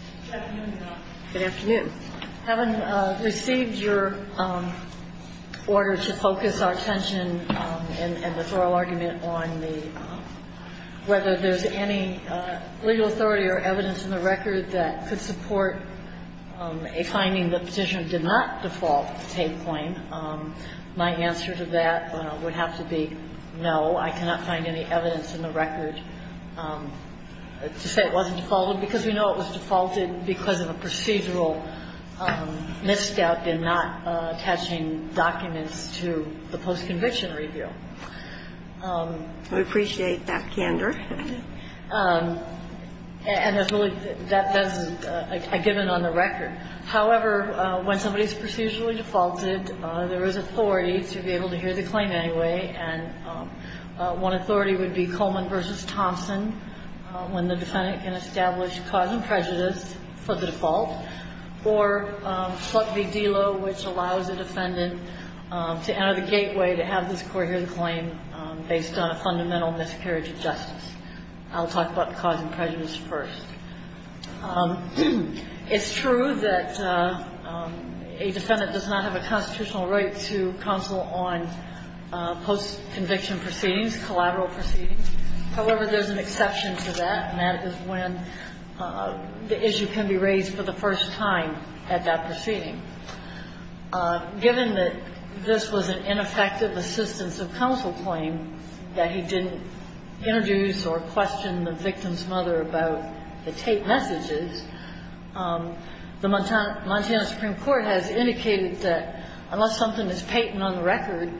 on whether there's any legal authority or evidence in the record that could support a finding that the petitioner did not default to take the claim. My answer to that would have to be no, I cannot find any evidence in the record to support a finding that the petitioner did not default to take the claim. I would say it wasn't defaulted because we know it was defaulted because of a procedural misstep in not attaching documents to the post-conviction review. We appreciate that candor. And that's a given on the record. However, when somebody is procedurally defaulted, there is authority to be able to hear the claim anyway. And one authority would be Coleman v. Thompson, when the defendant can establish cause and prejudice for the default, or Slut v. Delo, which allows the defendant to enter the gateway to have this court hear the claim based on a fundamental miscarriage of justice. I'll talk about the cause and prejudice first. It's true that a defendant does not have a constitutional right to counsel on post-conviction proceedings, collateral proceedings. However, there's an exception to that, and that is when the issue can be raised for the first time at that proceeding. Given that this was an ineffective assistance of counsel claim, that he didn't introduce or question the victim's mother about the tape messages, the Montana Supreme Court has indicated that unless something is patent on the record,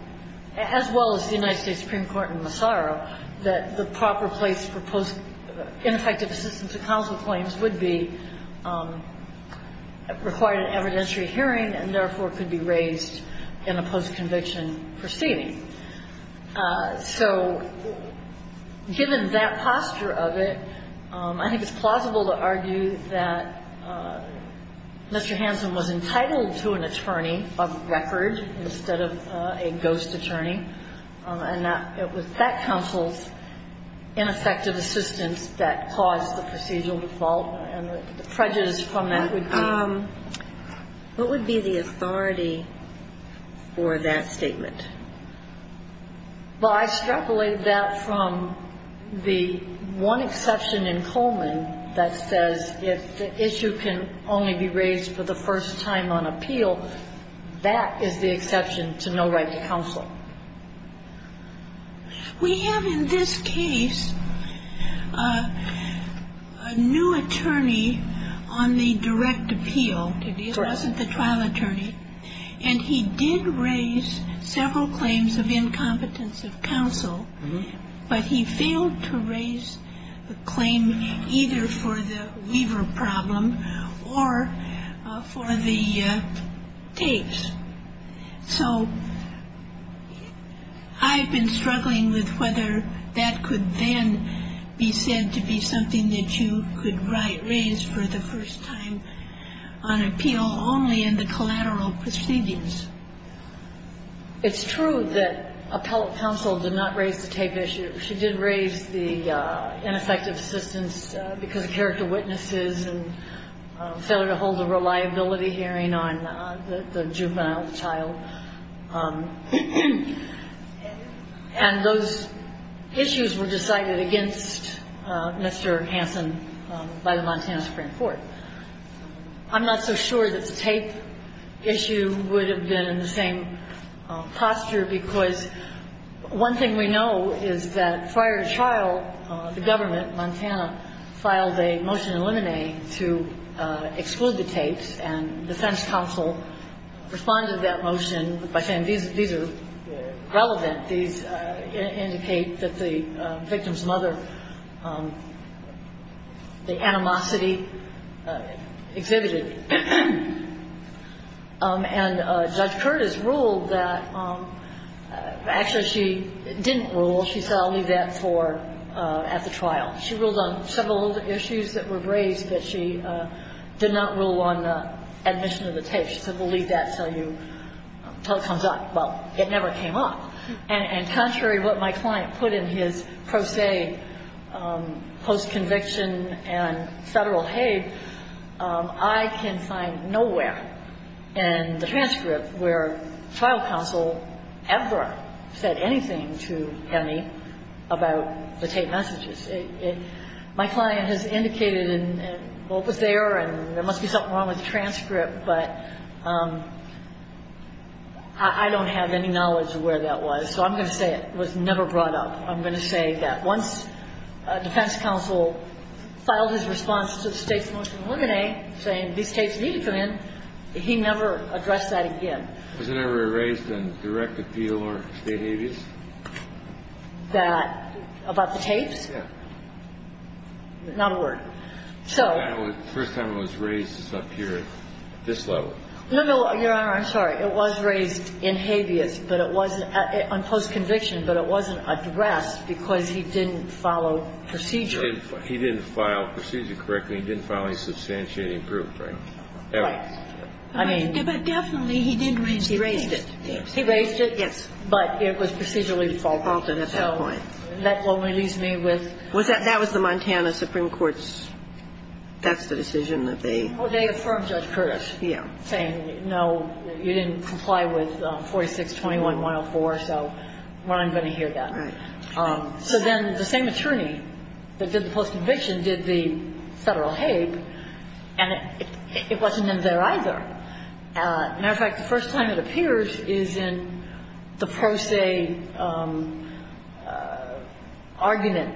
as well as the United States Supreme Court in Massaro, that the proper place for ineffective assistance of counsel claims would be required in evidentiary hearing and, therefore, could be raised in a post-conviction proceeding. So given that posture of it, I think it's plausible to argue that Mr. Hansen was entitled to an attorney of record instead of a ghost attorney, and that it was that counsel's ineffective assistance that caused the procedural default and the prejudice from that would be. What would be the authority for that statement? Well, I extrapolated that from the one exception in Coleman that says if the issue can only be raised for the first time on appeal, that is the exception to no right to counsel. We have in this case a new attorney on the direct appeal. Correct. He wasn't the trial attorney, and he did raise several claims of incompetence of counsel, but he failed to raise the claim either for the weaver problem or for the tapes. So I've been struggling with whether that could then be said to be something that you could raise for the first time on appeal only in the collateral proceedings. It's true that appellate counsel did not raise the tape issue. She did raise the ineffective assistance because of character witnesses and failure to hold a reliability hearing on the juvenile, the child, and those issues were decided against Mr. Hansen by the Montana Supreme Court. I'm not so sure that the tape issue would have been in the same posture because one thing we know is that prior to trial, the government, Montana, filed a motion eliminate to exclude the tapes, and defense counsel responded to that motion by saying these are relevant. These indicate that the victim's mother, the animosity exhibited. And Judge Curtis ruled that actually she didn't rule. She said I'll leave that for at the trial. She ruled on several issues that were raised, but she did not rule on admission of the tape. She said we'll leave that until you, until it comes up. Well, it never came up. And contrary to what my client put in his pro se post-conviction and Federal Hague, I can find nowhere in the transcript where trial counsel ever said anything to Emmy about the tape messages. My client has indicated, well, it was there and there must be something wrong with the transcript, but I don't have any knowledge of where that was, so I'm going to say it was never brought up. I'm going to say that once defense counsel filed his response to the state's motion eliminate, saying these tapes need to come in, he never addressed that again. Was it ever raised in direct appeal or state habeas? That, about the tapes? No. Not a word. So. The first time it was raised was up here at this level. No, no, Your Honor, I'm sorry. It was raised in habeas, but it wasn't, on post-conviction, but it wasn't addressed because he didn't follow procedure. He didn't file procedure correctly. He didn't file any substantiating proof, right? Right. I mean. But definitely he didn't raise it. He raised it. Yes. He raised it? Yes. But it was procedurally defaulted at that point. So that only leaves me with. Was that, that was the Montana Supreme Court's, that's the decision that they. Oh, they affirmed Judge Curtis. Yeah. Saying, no, you didn't comply with 4621-104, so we're not going to hear that. Right. So then the same attorney that did the post-conviction did the federal habe, and it wasn't in there either. As a matter of fact, the first time it appears is in the pro se argument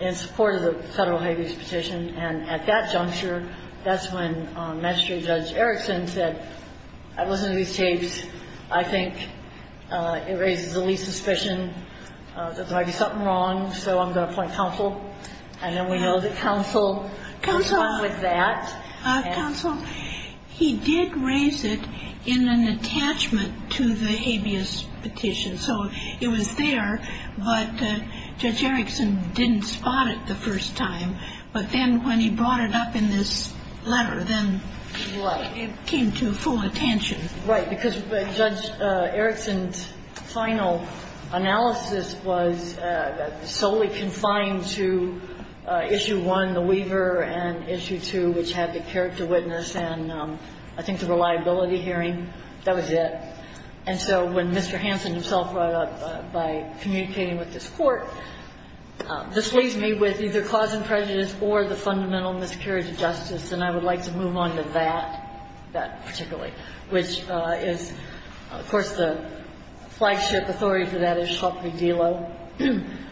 in support of the federal habeas petition. And at that juncture, that's when Magistrate Judge Erickson said, I've listened to these tapes. I think it raises the least suspicion that there might be something wrong, so I'm going to appoint counsel. And then we know that counsel. Counsel. Complied with that. Counsel, he did raise it in an attachment to the habeas petition. So it was there, but Judge Erickson didn't spot it the first time. But then when he brought it up in this letter, then it came to full attention. Right. Because Judge Erickson's final analysis was solely confined to Issue 1, the Weaver, and Issue 2, which had the character witness and I think the reliability hearing. That was it. And so when Mr. Hansen himself brought it up by communicating with this Court, this leaves me with either clause in prejudice or the fundamental miscarriage of justice, and I would like to move on to that, that particularly, which is, of course, the flagship authority for that is Schlafly-Velo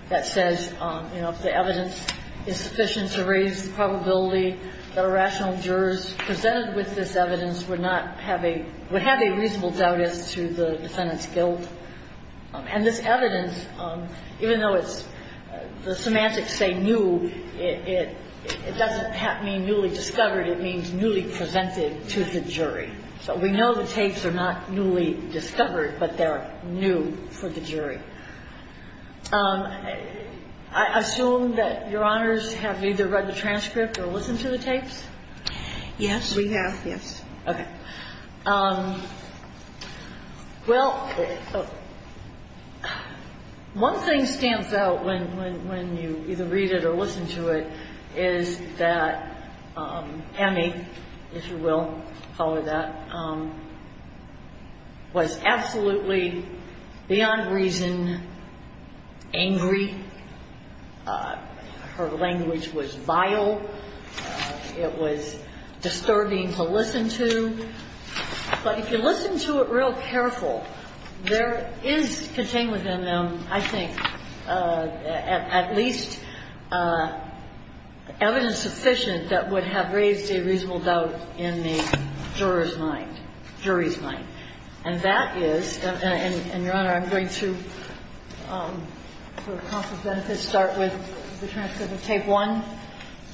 that says, you know, if the evidence is sufficient to raise the probability that a rational juror presented with this evidence would not have a – would have a reasonable doubt as to the defendant's guilt. And this evidence, even though it's – the semantics say new, it doesn't mean newly discovered. It means newly presented to the jury. So we know the tapes are not newly discovered, but they're new for the jury. I assume that Your Honors have either read the transcript or listened to the tapes? Yes. We have, yes. Okay. Well, one thing stands out when you either read it or listen to it is that Hammy, if you will, follow that, was absolutely beyond reason angry. Her language was vile. It was disturbing to listen to. But if you listen to it real careful, there is contained within them, I think, at least evidence sufficient that would have raised a reasonable doubt in the juror's mind, jury's mind. And that is – and, Your Honor, I'm going to, for the cost of benefits, start with the transcript of tape one.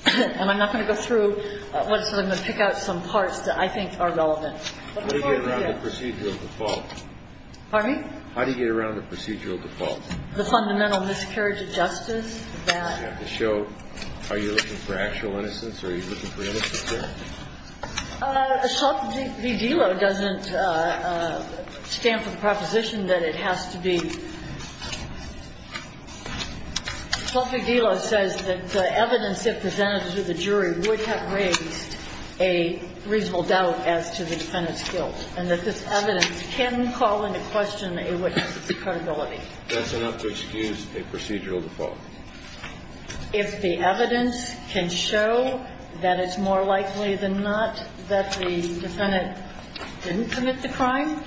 And I'm not going to go through what it says. I'm going to pick out some parts that I think are relevant. But before I do that – How do you get around the procedural default? Pardon me? How do you get around the procedural default? The fundamental miscarriage of justice that – You have to show are you looking for actual innocence or are you looking for innocence here? Sotheby Delo doesn't stand for the proposition that it has to be – Sotheby Delo says that the evidence if presented to the jury would have raised a reasonable doubt as to the defendant's guilt and that this evidence can call into question a witness' credibility. That's enough to excuse a procedural default. If the evidence can show that it's more likely than not that the defendant didn't commit the crime,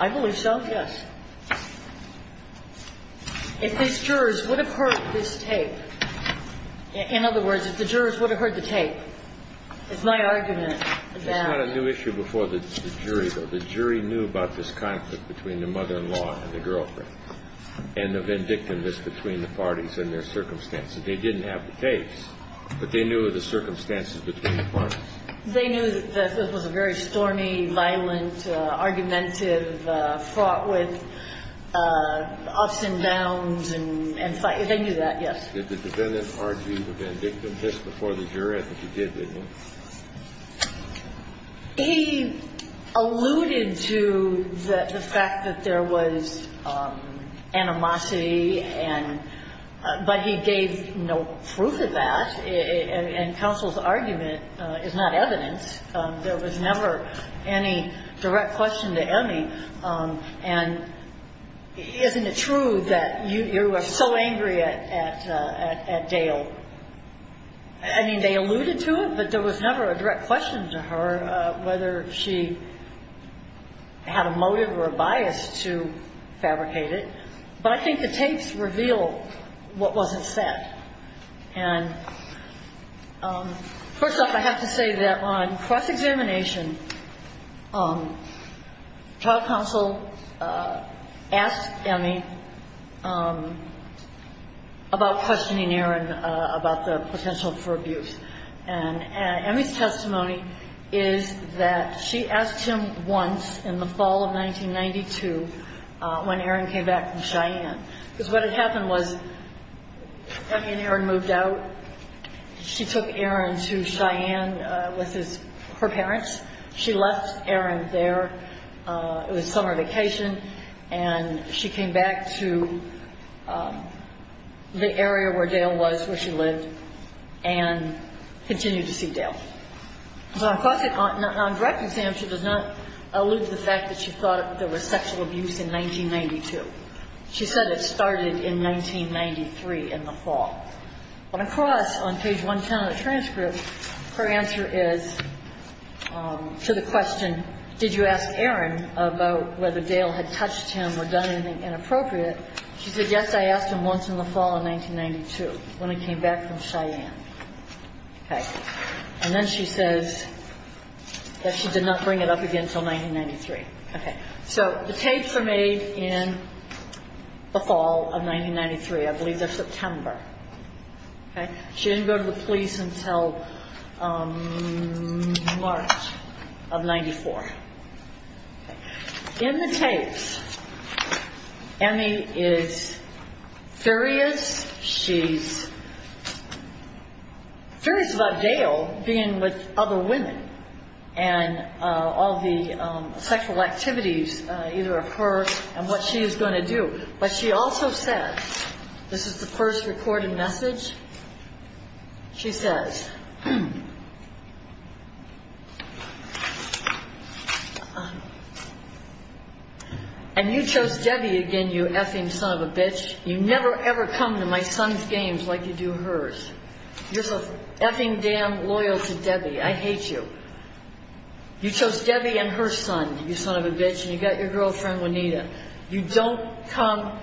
I believe so, yes. If these jurors would have heard this tape – in other words, if the jurors would have heard the tape, it's my argument that – It's not a new issue before the jury, though. The jury knew about this conflict between the mother-in-law and the girlfriend and the vindictiveness between the parties and their circumstances. They didn't have the tapes, but they knew of the circumstances between the parties. They knew that this was a very stormy, violent, argumentative, fought with, ups and downs, and fight. They knew that, yes. Did the defendant argue the vindictiveness before the jury? I think he did, didn't he? He alluded to the fact that there was animosity, but he gave no proof of that. And counsel's argument is not evidence. There was never any direct question to any. And isn't it true that you are so angry at Dale? I mean, they alluded to it, but there was never a direct question to her whether she had a motive or a bias to fabricate it. But I think the tapes reveal what wasn't said. And first off, I have to say that on cross-examination, child counsel asked Emi about questioning Aaron about the potential for abuse. And Emi's testimony is that she asked him once in the fall of 1992 when Aaron came back from Cheyenne. Because what had happened was Emi and Aaron moved out. She took Aaron to Cheyenne with her parents. She left Aaron there. It was summer vacation. And she came back to the area where Dale was, where she lived, and continued to see Dale. So on cross-examination, she does not allude to the fact that she thought there was sexual abuse in 1992. She said it started in 1993 in the fall. But across on page 110 of the transcript, her answer is to the question, did you ask Aaron about whether Dale had touched him or done anything inappropriate? She said, yes, I asked him once in the fall of 1992 when he came back from Cheyenne. Okay. And then she says that she did not bring it up again until 1993. Okay. So the tapes were made in the fall of 1993. I believe they're September. Okay. She didn't go to the police until March of 1994. In the tapes, Emi is furious. She's furious about Dale being with other women and all the sexual activities, either of her and what she is going to do. But she also said, this is the first recorded message, she says, and you chose Debbie again, you effing son of a bitch. You never, ever come to my son's games like you do hers. You're so effing damn loyal to Debbie. I hate you. You chose Debbie and her son, you son of a bitch, and you got your girlfriend Juanita. You don't come.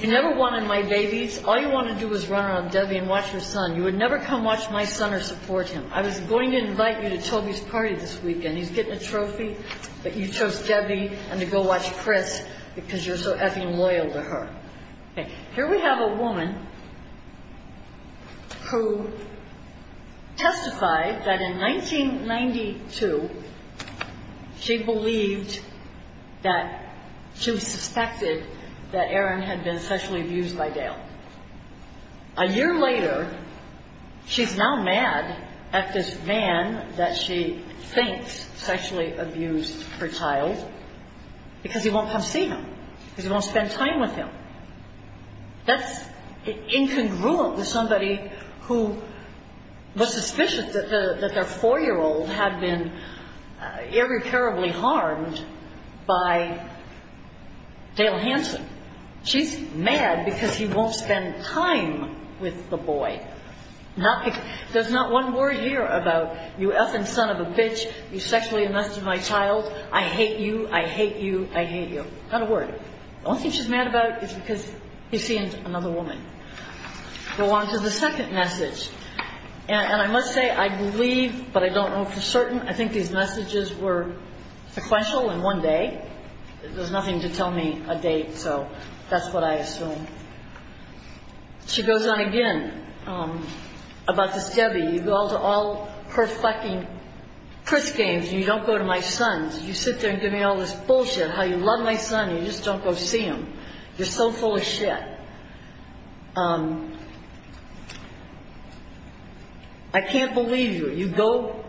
You never wanted my babies. All you want to do is run around Debbie and watch your son. You would never come watch my son or support him. I was going to invite you to Toby's party this weekend. He's getting a trophy, but you chose Debbie and to go watch Chris because you're so effing loyal to her. Here we have a woman who testified that in 1992, she believed that she was suspected that Aaron had been sexually abused by Dale. A year later, she's now mad at this man that she thinks sexually abused her child because he won't come see him, because he won't spend time with him. That's incongruent with somebody who was suspicious that their 4-year-old had been irreparably harmed by Dale Hanson. She's mad because he won't spend time with the boy. There's not one word here about you effing son of a bitch, you sexually molested my child. I hate you, I hate you, I hate you. Not a word. The only thing she's mad about is because he's seeing another woman. We'll go on to the second message. And I must say I believe, but I don't know for certain, I think these messages were sequential in one day. There's nothing to tell me a date, so that's what I assume. She goes on again about this Debbie. You go to all her fucking Chris games and you don't go to my son's. You sit there and give me all this bullshit how you love my son and you just don't go see him. You're so full of shit. I can't believe you. You go,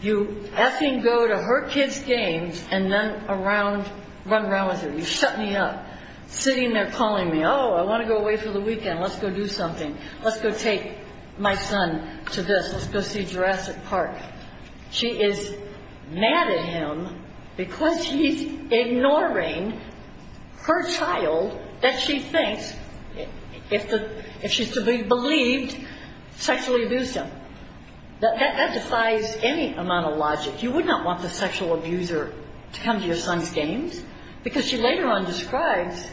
you effing go to her kids' games and then run around with her. You shut me up. Sitting there calling me, oh, I want to go away for the weekend. Let's go do something. Let's go take my son to this. Let's go see Jurassic Park. She is mad at him because he's ignoring her child that she thinks, if she's to be believed, sexually abused him. That defies any amount of logic. You would not want the sexual abuser to come to your son's games because she later on describes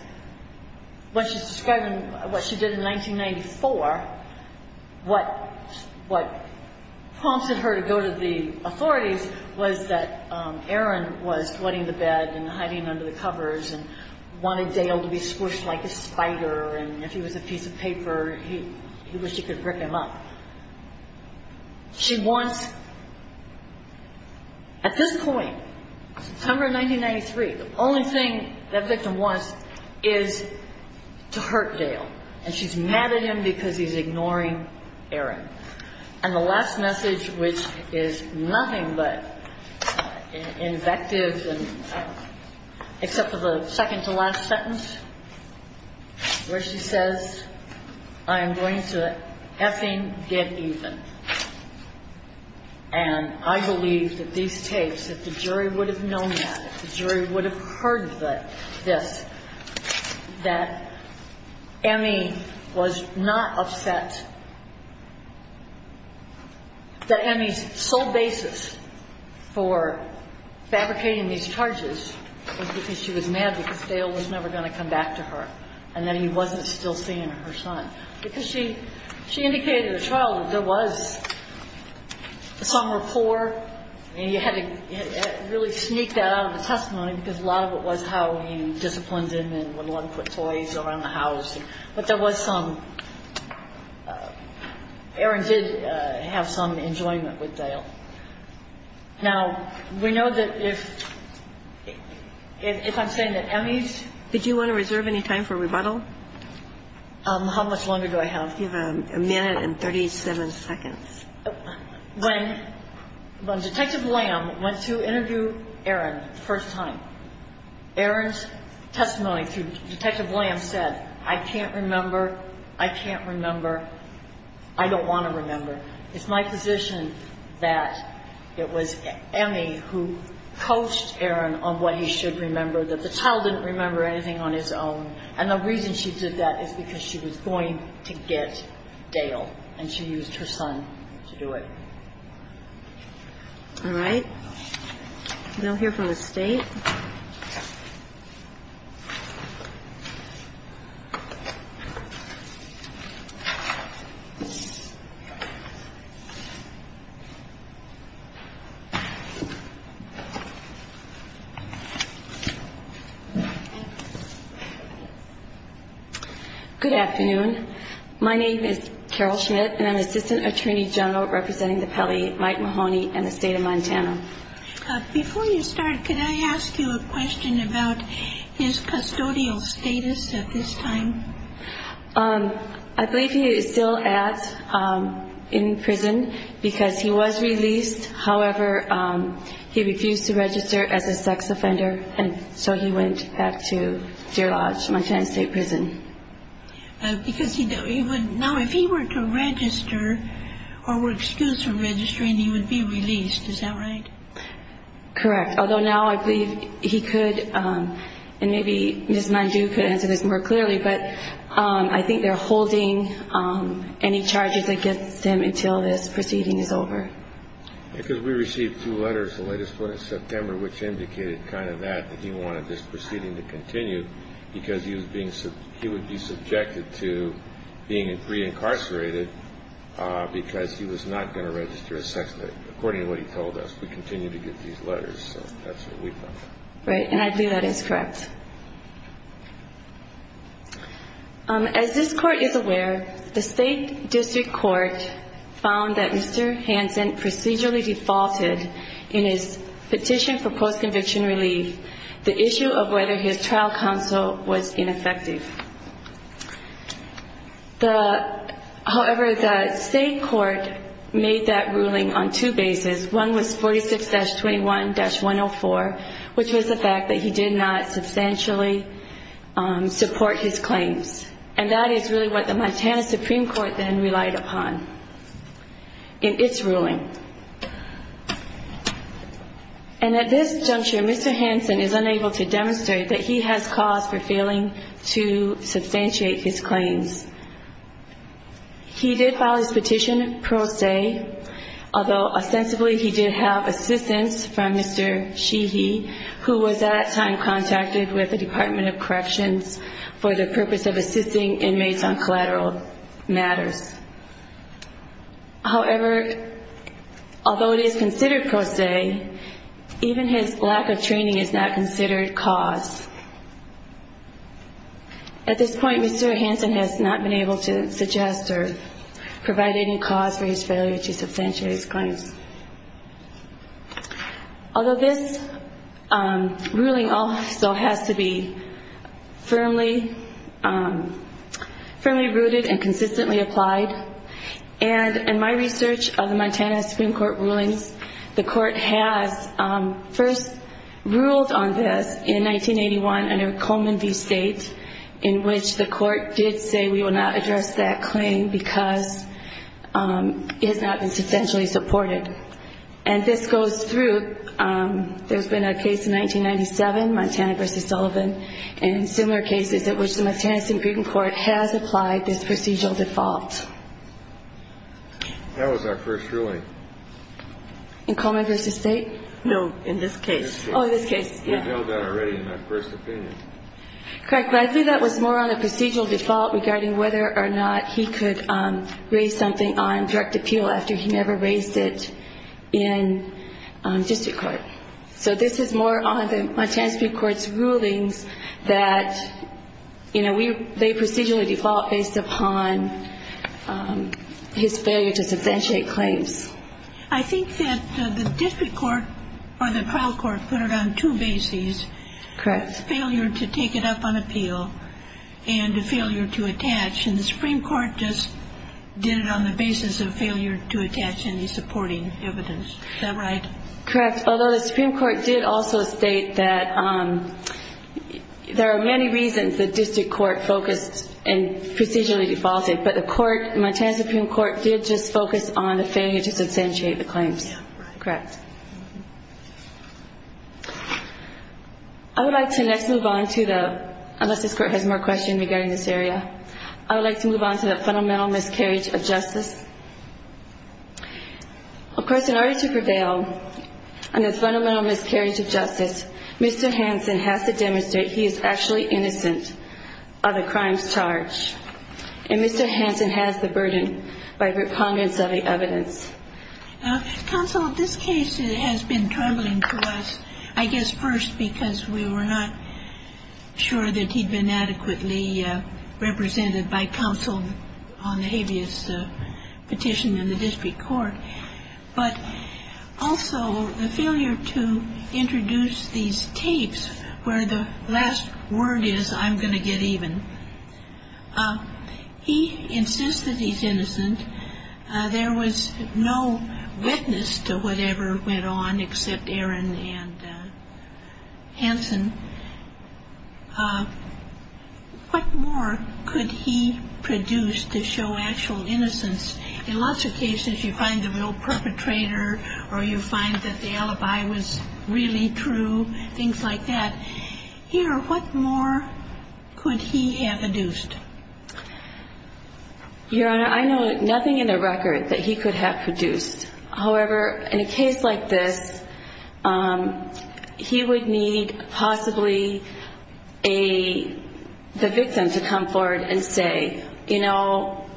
when she's describing what she did in 1994, what prompted her to go to the authorities was that Aaron was sweating the bed and hiding under the covers and wanted Dale to be squished like a spider and if he was a piece of paper, he wished he could rip him up. She wants, at this point, September 1993, the only thing that victim wants is to hurt Dale and she's mad at him because he's ignoring Aaron. And the last message, which is nothing but invective except for the second to last sentence where she says, I am going to effing get even. And I believe that these tapes, if the jury would have known that, if the jury would have heard this, that Emmy was not upset that Emmy's sole basis for fabricating these charges was because she was mad because Dale was never going to come back to her and that he wasn't still seeing her son. Because she indicated to the child that there was some rapport and you had to really sneak that out of the testimony because a lot of it was how he disciplined him and would let him put toys around the house. But there was some, Aaron did have some enjoyment with Dale. Now, we know that if I'm saying that Emmy's... Did you want to reserve any time for rebuttal? How much longer do I have? You have a minute and 37 seconds. When Detective Lamb went to interview Aaron the first time, Aaron's testimony to Detective Lamb said, I can't remember, I can't remember, I don't want to remember. It's my position that it was Emmy who coached Aaron on what he should remember, that the child didn't remember anything on his own. And the reason she did that is because she was going to get Dale and she used her son to do it. All right. We don't hear from the State. Good afternoon. My name is Carol Schmidt and I'm Assistant Attorney General representing the Pele, Mike Mahoney and the State of Montana. Before you start, could I ask you a question about his custodial status at this time? I believe he is still in prison because he was released. However, he refused to register as a sex offender and so he went back to Deer Lodge, Montana State Prison. Now, if he were to register or were excused from registering, he would be released. Is that right? Correct. Although now I believe he could, and maybe Ms. Mandu could answer this more clearly, but I think they're holding any charges against him until this proceeding is over. Because we received two letters the latest one in September which indicated kind of that, that he wanted this proceeding to continue because he would be subjected to being pre-incarcerated because he was not going to register as sex offender, according to what he told us. We continue to get these letters, so that's what we thought. Right, and I believe that is correct. As this Court is aware, the State District Court found that Mr. Hansen procedurally defaulted in his petition for post-conviction relief the issue of whether his trial counsel was ineffective. However, the State Court made that ruling on two bases. One was 46-21-104, which was the fact that he did not substantially support his claims. And that is really what the Montana Supreme Court then relied upon in its ruling. And at this juncture, Mr. Hansen is unable to demonstrate that he has cause for failing to substantiate his claims. He did file his petition pro se, although ostensibly he did have assistance from Mr. Sheehy, who was at that time contacted with the Department of Corrections for the purpose of assisting inmates on collateral matters. However, although it is considered pro se, even his lack of training is not considered cause. At this point, Mr. Hansen has not been able to suggest or provide any cause for his failure to substantiate his claims. Although this ruling also has to be firmly rooted and consistently applied, and in my research of the Montana Supreme Court rulings, the Court has first ruled on this in 1981 under Coleman v. State, in which the Court did say we will not address that claim because it has not been substantially supported. And this goes through. There's been a case in 1997, Montana v. Sullivan, and similar cases in which the Montana Supreme Court has applied this procedural default. That was our first ruling. In Coleman v. State? No, in this case. Oh, in this case. We held that already in our first opinion. Correct. But I think that was more on a procedural default regarding whether or not he could raise something on direct appeal after he never raised it in district court. So this is more on the Montana Supreme Court's rulings that, you know, they procedurally default based upon his failure to substantiate claims. I think that the district court or the trial court put it on two bases. Correct. That's failure to take it up on appeal and failure to attach, and the Supreme Court just did it on the basis of failure to attach any supporting evidence. Is that right? Correct. Although the Supreme Court did also state that there are many reasons the district court focused and procedurally defaulted, but the court, Montana Supreme Court, did just focus on the failure to substantiate the claims. Correct. I would like to next move on to the, unless this court has more questions regarding this area, I would like to move on to the fundamental miscarriage of justice. Of course, in order to prevail on the fundamental miscarriage of justice, Mr. Hansen has to demonstrate he is actually innocent of the crimes charged, and Mr. Hansen has the burden by recongruence of the evidence. Counsel, this case has been troubling to us, I guess, first because we were not sure that he'd been adequately represented by counsel on the habeas petition in the district court, but also the failure to introduce these tapes where the last word is, I'm going to get even. He insists that he's innocent. There was no witness to whatever went on except Aaron and Hansen. What more could he produce to show actual innocence? In lots of cases you find a real perpetrator or you find that the alibi was really true, things like that. Here, what more could he have induced? Your Honor, I know nothing in the record that he could have produced. However, in a case like this, he would need possibly the victim to come forward and say, you know,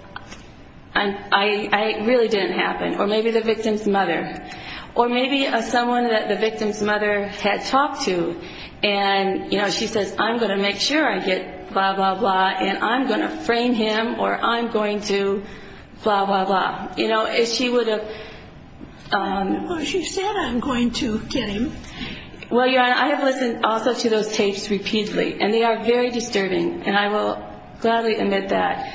I really didn't happen, or maybe the victim's mother, or maybe someone that the victim's mother had talked to, and she says, I'm going to make sure I get blah, blah, blah, and I'm going to frame him, or I'm going to blah, blah, blah. You know, if she would have... Well, she said, I'm going to get him. Well, Your Honor, I have listened also to those tapes repeatedly, and they are very disturbing, and I will gladly admit that.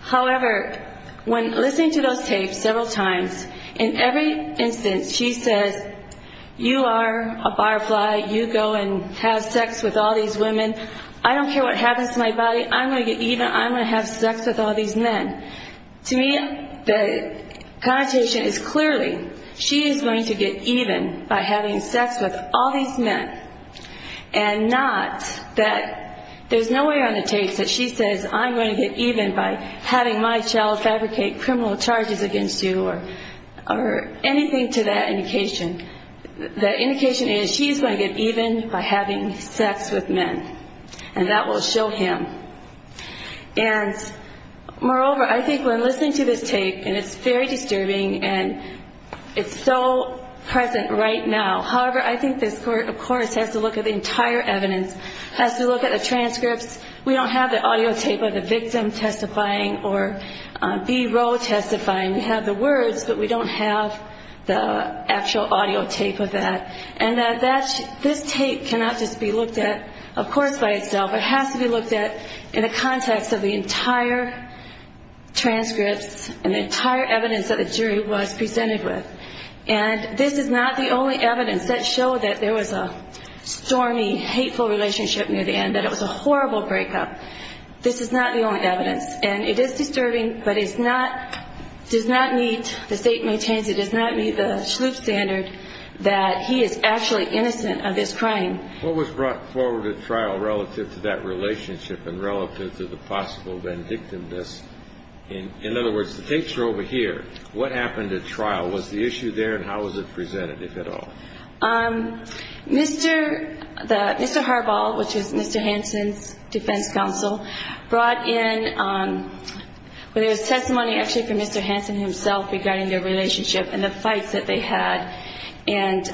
However, when listening to those tapes several times, in every instance she says, you are a butterfly. You go and have sex with all these women. I don't care what happens to my body. I'm going to get even. I'm going to have sex with all these men. To me, the connotation is clearly she is going to get even by having sex with all these men, and not that there's no way on the tapes that she says, I'm going to get even by having my child fabricate criminal charges against you or anything to that indication. The indication is she is going to get even by having sex with men, and that will show him. And moreover, I think when listening to this tape, and it's very disturbing, and it's so present right now. However, I think this Court, of course, has to look at the entire evidence, has to look at the transcripts. We don't have the audio tape of the victim testifying or B-Roll testifying. We have the words, but we don't have the actual audio tape of that. And this tape cannot just be looked at, of course, by itself. It has to be looked at in the context of the entire transcripts and the entire evidence that the jury was presented with. And this is not the only evidence that showed that there was a stormy, hateful relationship near the end, that it was a horrible breakup. This is not the only evidence. And it is disturbing, but it does not meet, the State maintains, it does not meet the Schlupf standard that he is actually innocent of his crime. What was brought forward at trial relative to that relationship and relative to the possible vindictiveness? In other words, the tapes are over here. What happened at trial? Was the issue there, and how was it presented, if at all? Mr. Harbaugh, which is Mr. Hansen's defense counsel, brought in testimony actually from Mr. Hansen himself regarding their relationship and the fights that they had, and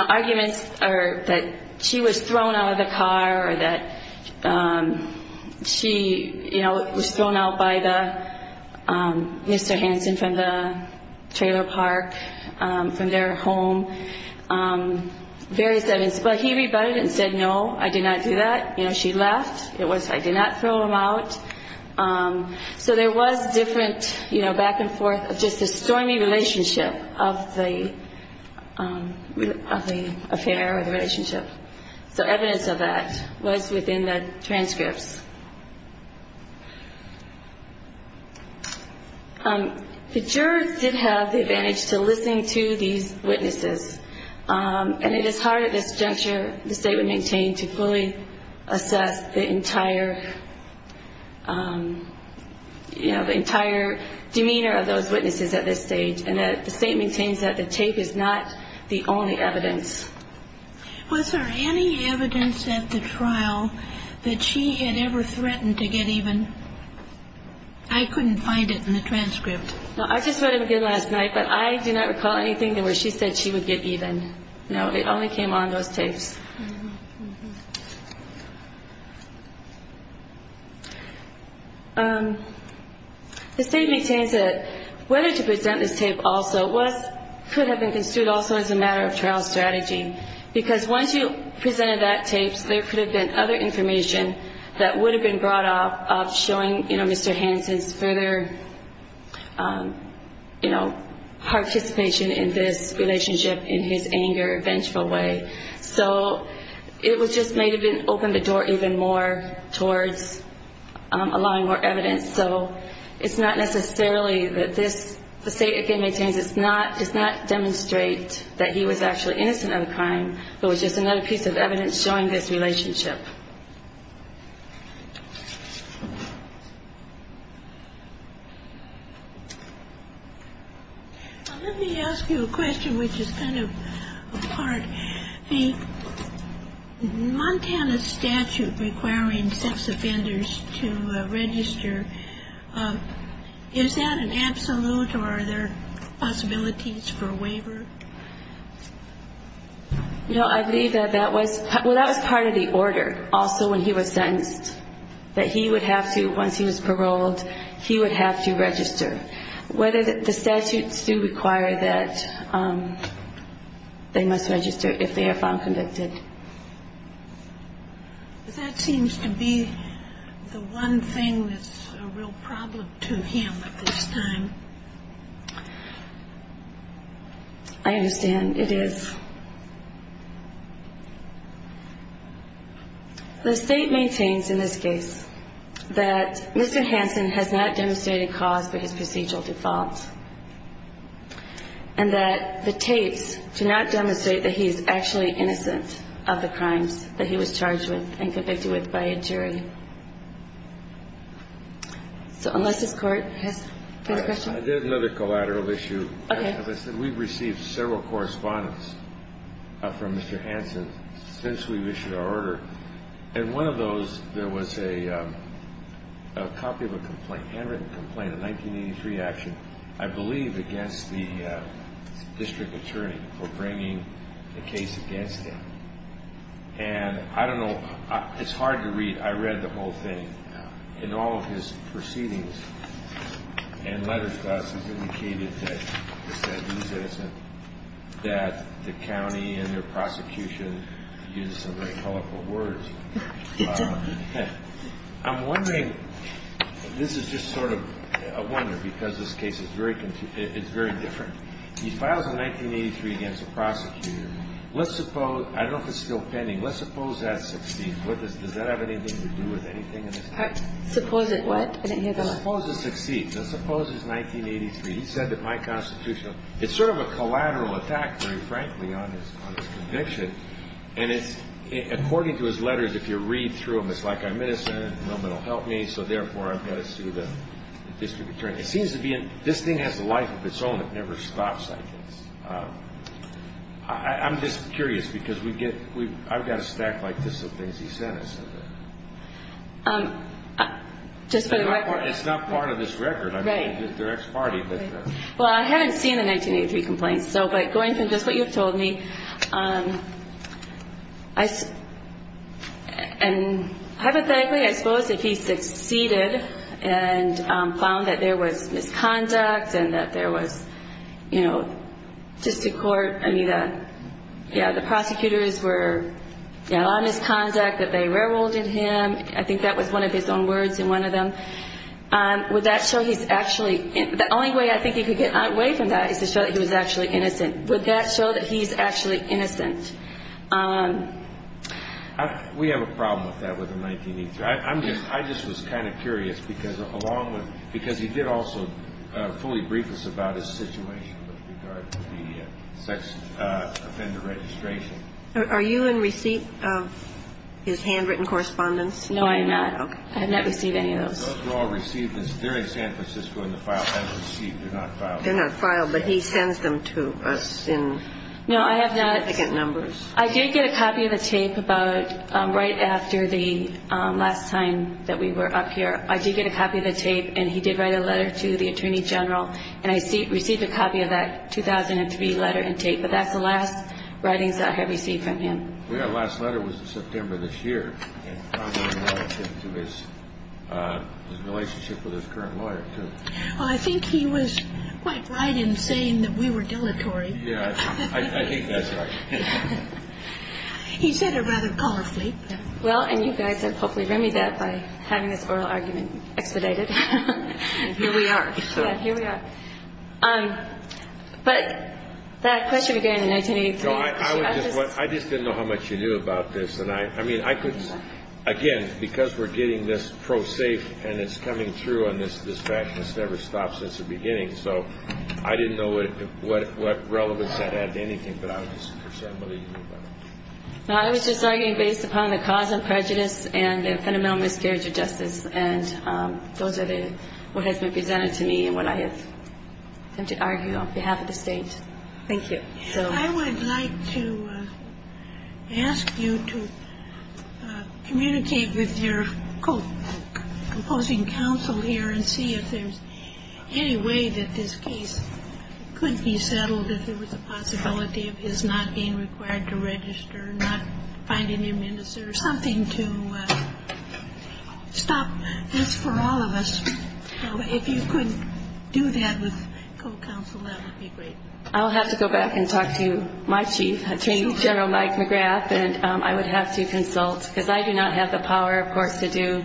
arguments that she was thrown out of the car or that she was thrown out by Mr. Hansen from the trailer park, from their home. But he rebutted it and said, no, I did not do that. You know, she left. It was, I did not throw him out. So there was different, you know, back and forth, just a stormy relationship of the affair or the relationship. So evidence of that was within the transcripts. The jurors did have the advantage to listen to these witnesses, and it is hard at this juncture, the State would maintain, to fully assess the entire demeanor of those witnesses at this stage. And the State maintains that the tape is not the only evidence. Was there any evidence at the trial that she had ever threatened to get even? I couldn't find it in the transcript. No, I just read it again last night, but I do not recall anything where she said she would get even. No, it only came on those tapes. The State maintains that whether to present this tape also could have been construed also as a matter of trial strategy, because once you presented that tape, there could have been other information that would have been brought up of showing Mr. Hansen's further participation in this relationship in his anger, vengeful way. So it just may have opened the door even more towards allowing more evidence. So it's not necessarily that this, the State again maintains, does not demonstrate that he was actually innocent of the crime. It was just another piece of evidence showing this relationship. Let me ask you a question which is kind of a part. The Montana statute requiring sex offenders to register, is that an absolute or are there possibilities for a waiver? No, I believe that that was part of the order also when he was sentenced, that he would have to, once he was paroled, he would have to register. The statutes do require that they must register if they are found convicted. That seems to be the one thing that's a real problem to him at this time. I understand. It is. The State maintains in this case that Mr. Hansen has not demonstrated cause for his procedural default, and that the tapes do not demonstrate that he is actually innocent of the crimes that he was charged with and convicted with by a jury. So unless this Court has a question. I did another collateral issue. As I said, we've received several correspondence from Mr. Hansen since we've issued our order. In one of those, there was a copy of a complaint, a handwritten complaint, a 1983 action, I believe, against the district attorney for bringing the case against him. And I don't know. It's hard to read. I read the whole thing. In all of his proceedings and letters to us, he's indicated that he's innocent, that the county and their prosecution used some very colorful words. I'm wondering, this is just sort of a wonder, because this case is very different. He files a 1983 against a prosecutor. I don't know if it's still pending. Let's suppose that succeeds. Does that have anything to do with anything in this case? Suppose it what? Suppose it succeeds. Now, suppose it's 1983. He said that my constitutional – it's sort of a collateral attack, very frankly, on his conviction. And according to his letters, if you read through them, it's like I'm innocent and no one will help me, so therefore I've got to sue the district attorney. It seems to be this thing has a life of its own. It never stops, I guess. I'm just curious, because we get – I've got a stack like this of things he sent us. Just for the record. It's not part of this record. Right. I'm talking to the district attorney. Right. Well, I haven't seen the 1983 complaint, so by going from just what you've told me, and hypothetically, I suppose if he succeeded and found that there was misconduct and that there was, you know, just to court, I mean, yeah, the prosecutors were – yeah, a lot of misconduct, that they railroaded him. I think that was one of his own words in one of them. Would that show he's actually – the only way I think he could get away from that is to show that he was actually innocent. Would that show that he's actually innocent? We have a problem with that with the 1983. I'm just – I just was kind of curious, because along with – because he did also fully brief us about his situation with regard to the sex offender registration. Are you in receipt of his handwritten correspondence? No, I am not. Okay. I have not received any of those. Those were all received during San Francisco in the file. They were received. They're not filed. They're not filed, but he sends them to us in significant numbers. No, I have not – I did get a copy of the tape about right after the last time that we were up here. I did get a copy of the tape, and he did write a letter to the attorney general, and I received a copy of that 2003 letter and tape, but that's the last writings that I have received from him. The last letter was in September of this year, and probably related to his relationship with his current lawyer, too. Well, I think he was quite right in saying that we were dilatory. Yeah, I think that's right. He said it rather powerfully. Well, and you guys have hopefully remedied that by having this oral argument expedited. Here we are. Yeah, here we are. But that question began in 1983. I just didn't know how much you knew about this, and I mean, I could – I was just arguing based upon the cause of prejudice and the fundamental miscarriage of justice, and those are what has been presented to me and what I have come to argue on behalf of the state. Thank you. I would like to ask you to communicate with your opposing counsel here. and see if there's any way that this case could be settled, if there was a possibility of his not being required to register, not finding a minister, something to stop this for all of us. If you could do that with co-counsel, that would be great. I'll have to go back and talk to my chief, Attorney General Mike McGrath, and I would have to consult because I do not have the power, of course, to do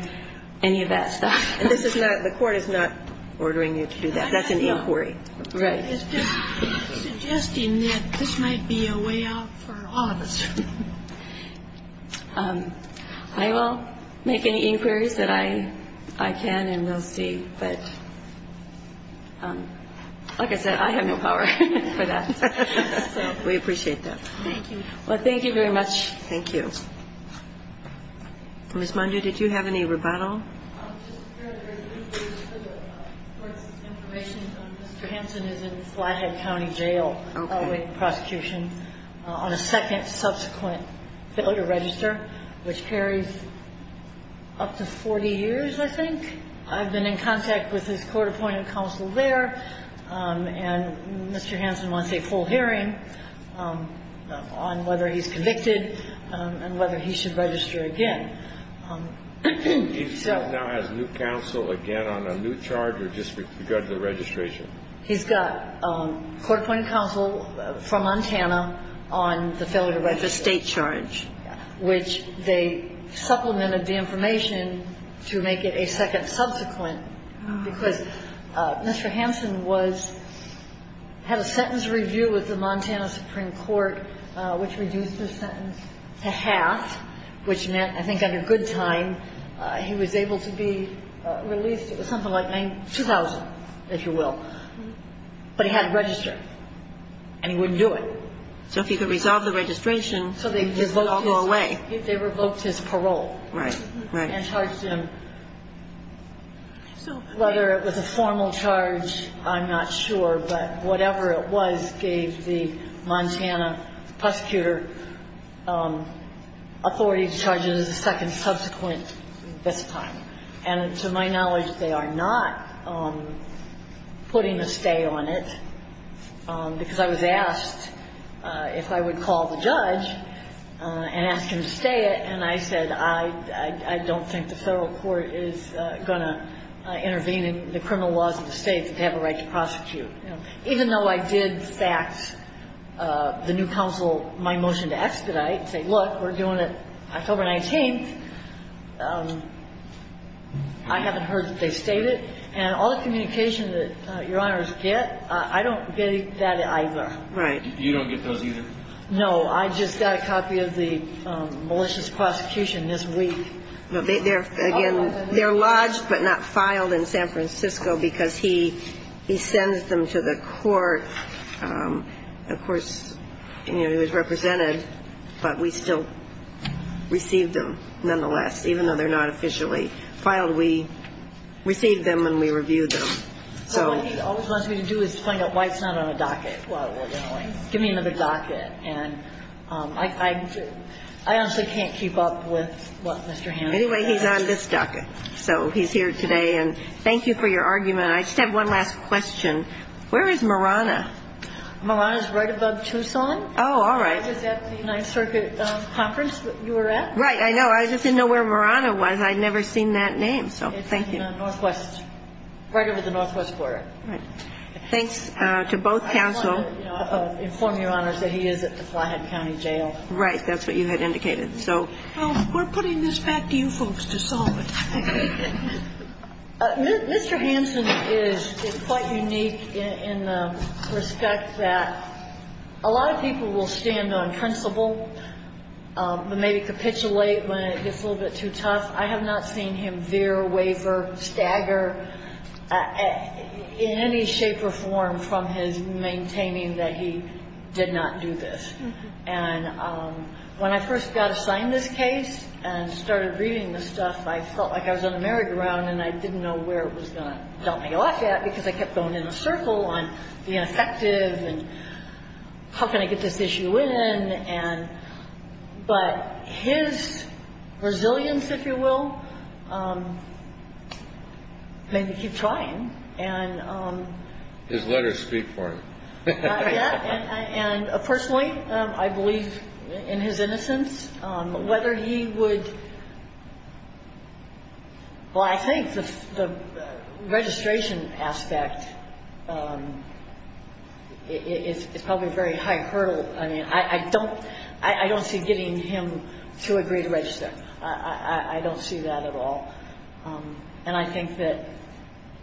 any of that stuff. And this is not – the court is not ordering you to do that. That's an inquiry. Right. It's just suggesting that this might be a way out for all of us. I will make any inquiries that I can and we'll see. But like I said, I have no power for that. We appreciate that. Thank you. Well, thank you very much. Thank you. Ms. Mundu, did you have any rebuttal? Mr. Hansen is in Flathead County Jail awaiting prosecution on a second subsequent failure register, which carries up to 40 years, I think. I've been in contact with his court-appointed counsel there, and Mr. Hansen wants a full hearing on whether he's convicted and whether he should register again. He now has new counsel, again, on a new charge or just regarding the registration? He's got court-appointed counsel from Montana on the failure to register state charge, which they supplemented the information to make it a second subsequent because Mr. Hansen had a sentence review with the Montana Supreme Court, which reduced the sentence to half, which meant, I think, under good time he was able to be released. It was something like $2,000, if you will. But he had to register, and he wouldn't do it. So if he could resolve the registration, it wouldn't all go away. They revoked his parole. Right, right. And charged him. So whether it was a formal charge, I'm not sure, but whatever it was gave the Montana prosecutor authority to charge it as a second subsequent this time. And to my knowledge, they are not putting a stay on it because I was asked if I would call the judge and ask him to stay it, and I said, I don't think the Federal court is going to intervene in the criminal laws of the state. And I didn't get a copy of the lawsuit. Even though I did fax the new counsel my motion to expedite and say, look, we're doing it October 19th, I haven't heard that they state it. And all the communication that Your Honors get, I don't get that either. Right. You don't get those either? No. I just got a copy of the malicious prosecution this week. They're lodged but not filed in San Francisco because he sends them to the court. Of course, he was represented, but we still received them nonetheless, even though they're not officially filed. We received them and we reviewed them. All he wants me to do is find out why it's not on a docket while we're going. Give me another docket. And I honestly can't keep up with what Mr. Hammond has. Anyway, he's on this docket. So he's here today. And thank you for your argument. I just have one last question. Where is Marana? Marana is right above Tucson. Oh, all right. It's at the United Circuit conference that you were at. Right. I know. I just didn't know where Marana was. I'd never seen that name. So thank you. It's in the northwest, right over the northwest border. Right. Thanks to both counsel. I just wanted to inform Your Honors that he is at the Flyhead County Jail. Right. That's what you had indicated. So we're putting this back to you folks to solve it. Mr. Hanson is quite unique in the respect that a lot of people will stand on principle but maybe capitulate when it gets a little bit too tough. I have not seen him veer, waver, stagger in any shape or form from his maintaining that he did not do this. And when I first got assigned this case and started reading this stuff, I felt like I was on the merry-go-round and I didn't know where it was going to dump me off at because I kept going in a circle on being effective and how can I get this issue in. But his resilience, if you will, made me keep trying. His letters speak for him. Yeah. And personally, I believe in his innocence. Whether he would – well, I think the registration aspect is probably a very high hurdle. I mean, I don't see getting him to agree to register. I don't see that at all. And I think that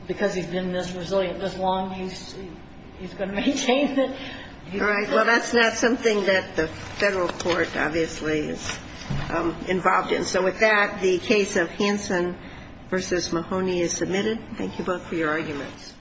because he's been this resilient this long, he's going to maintain it. All right. Well, that's not something that the Federal court obviously is involved in. So with that, the case of Hanson v. Mahoney is submitted. Thank you both for your arguments.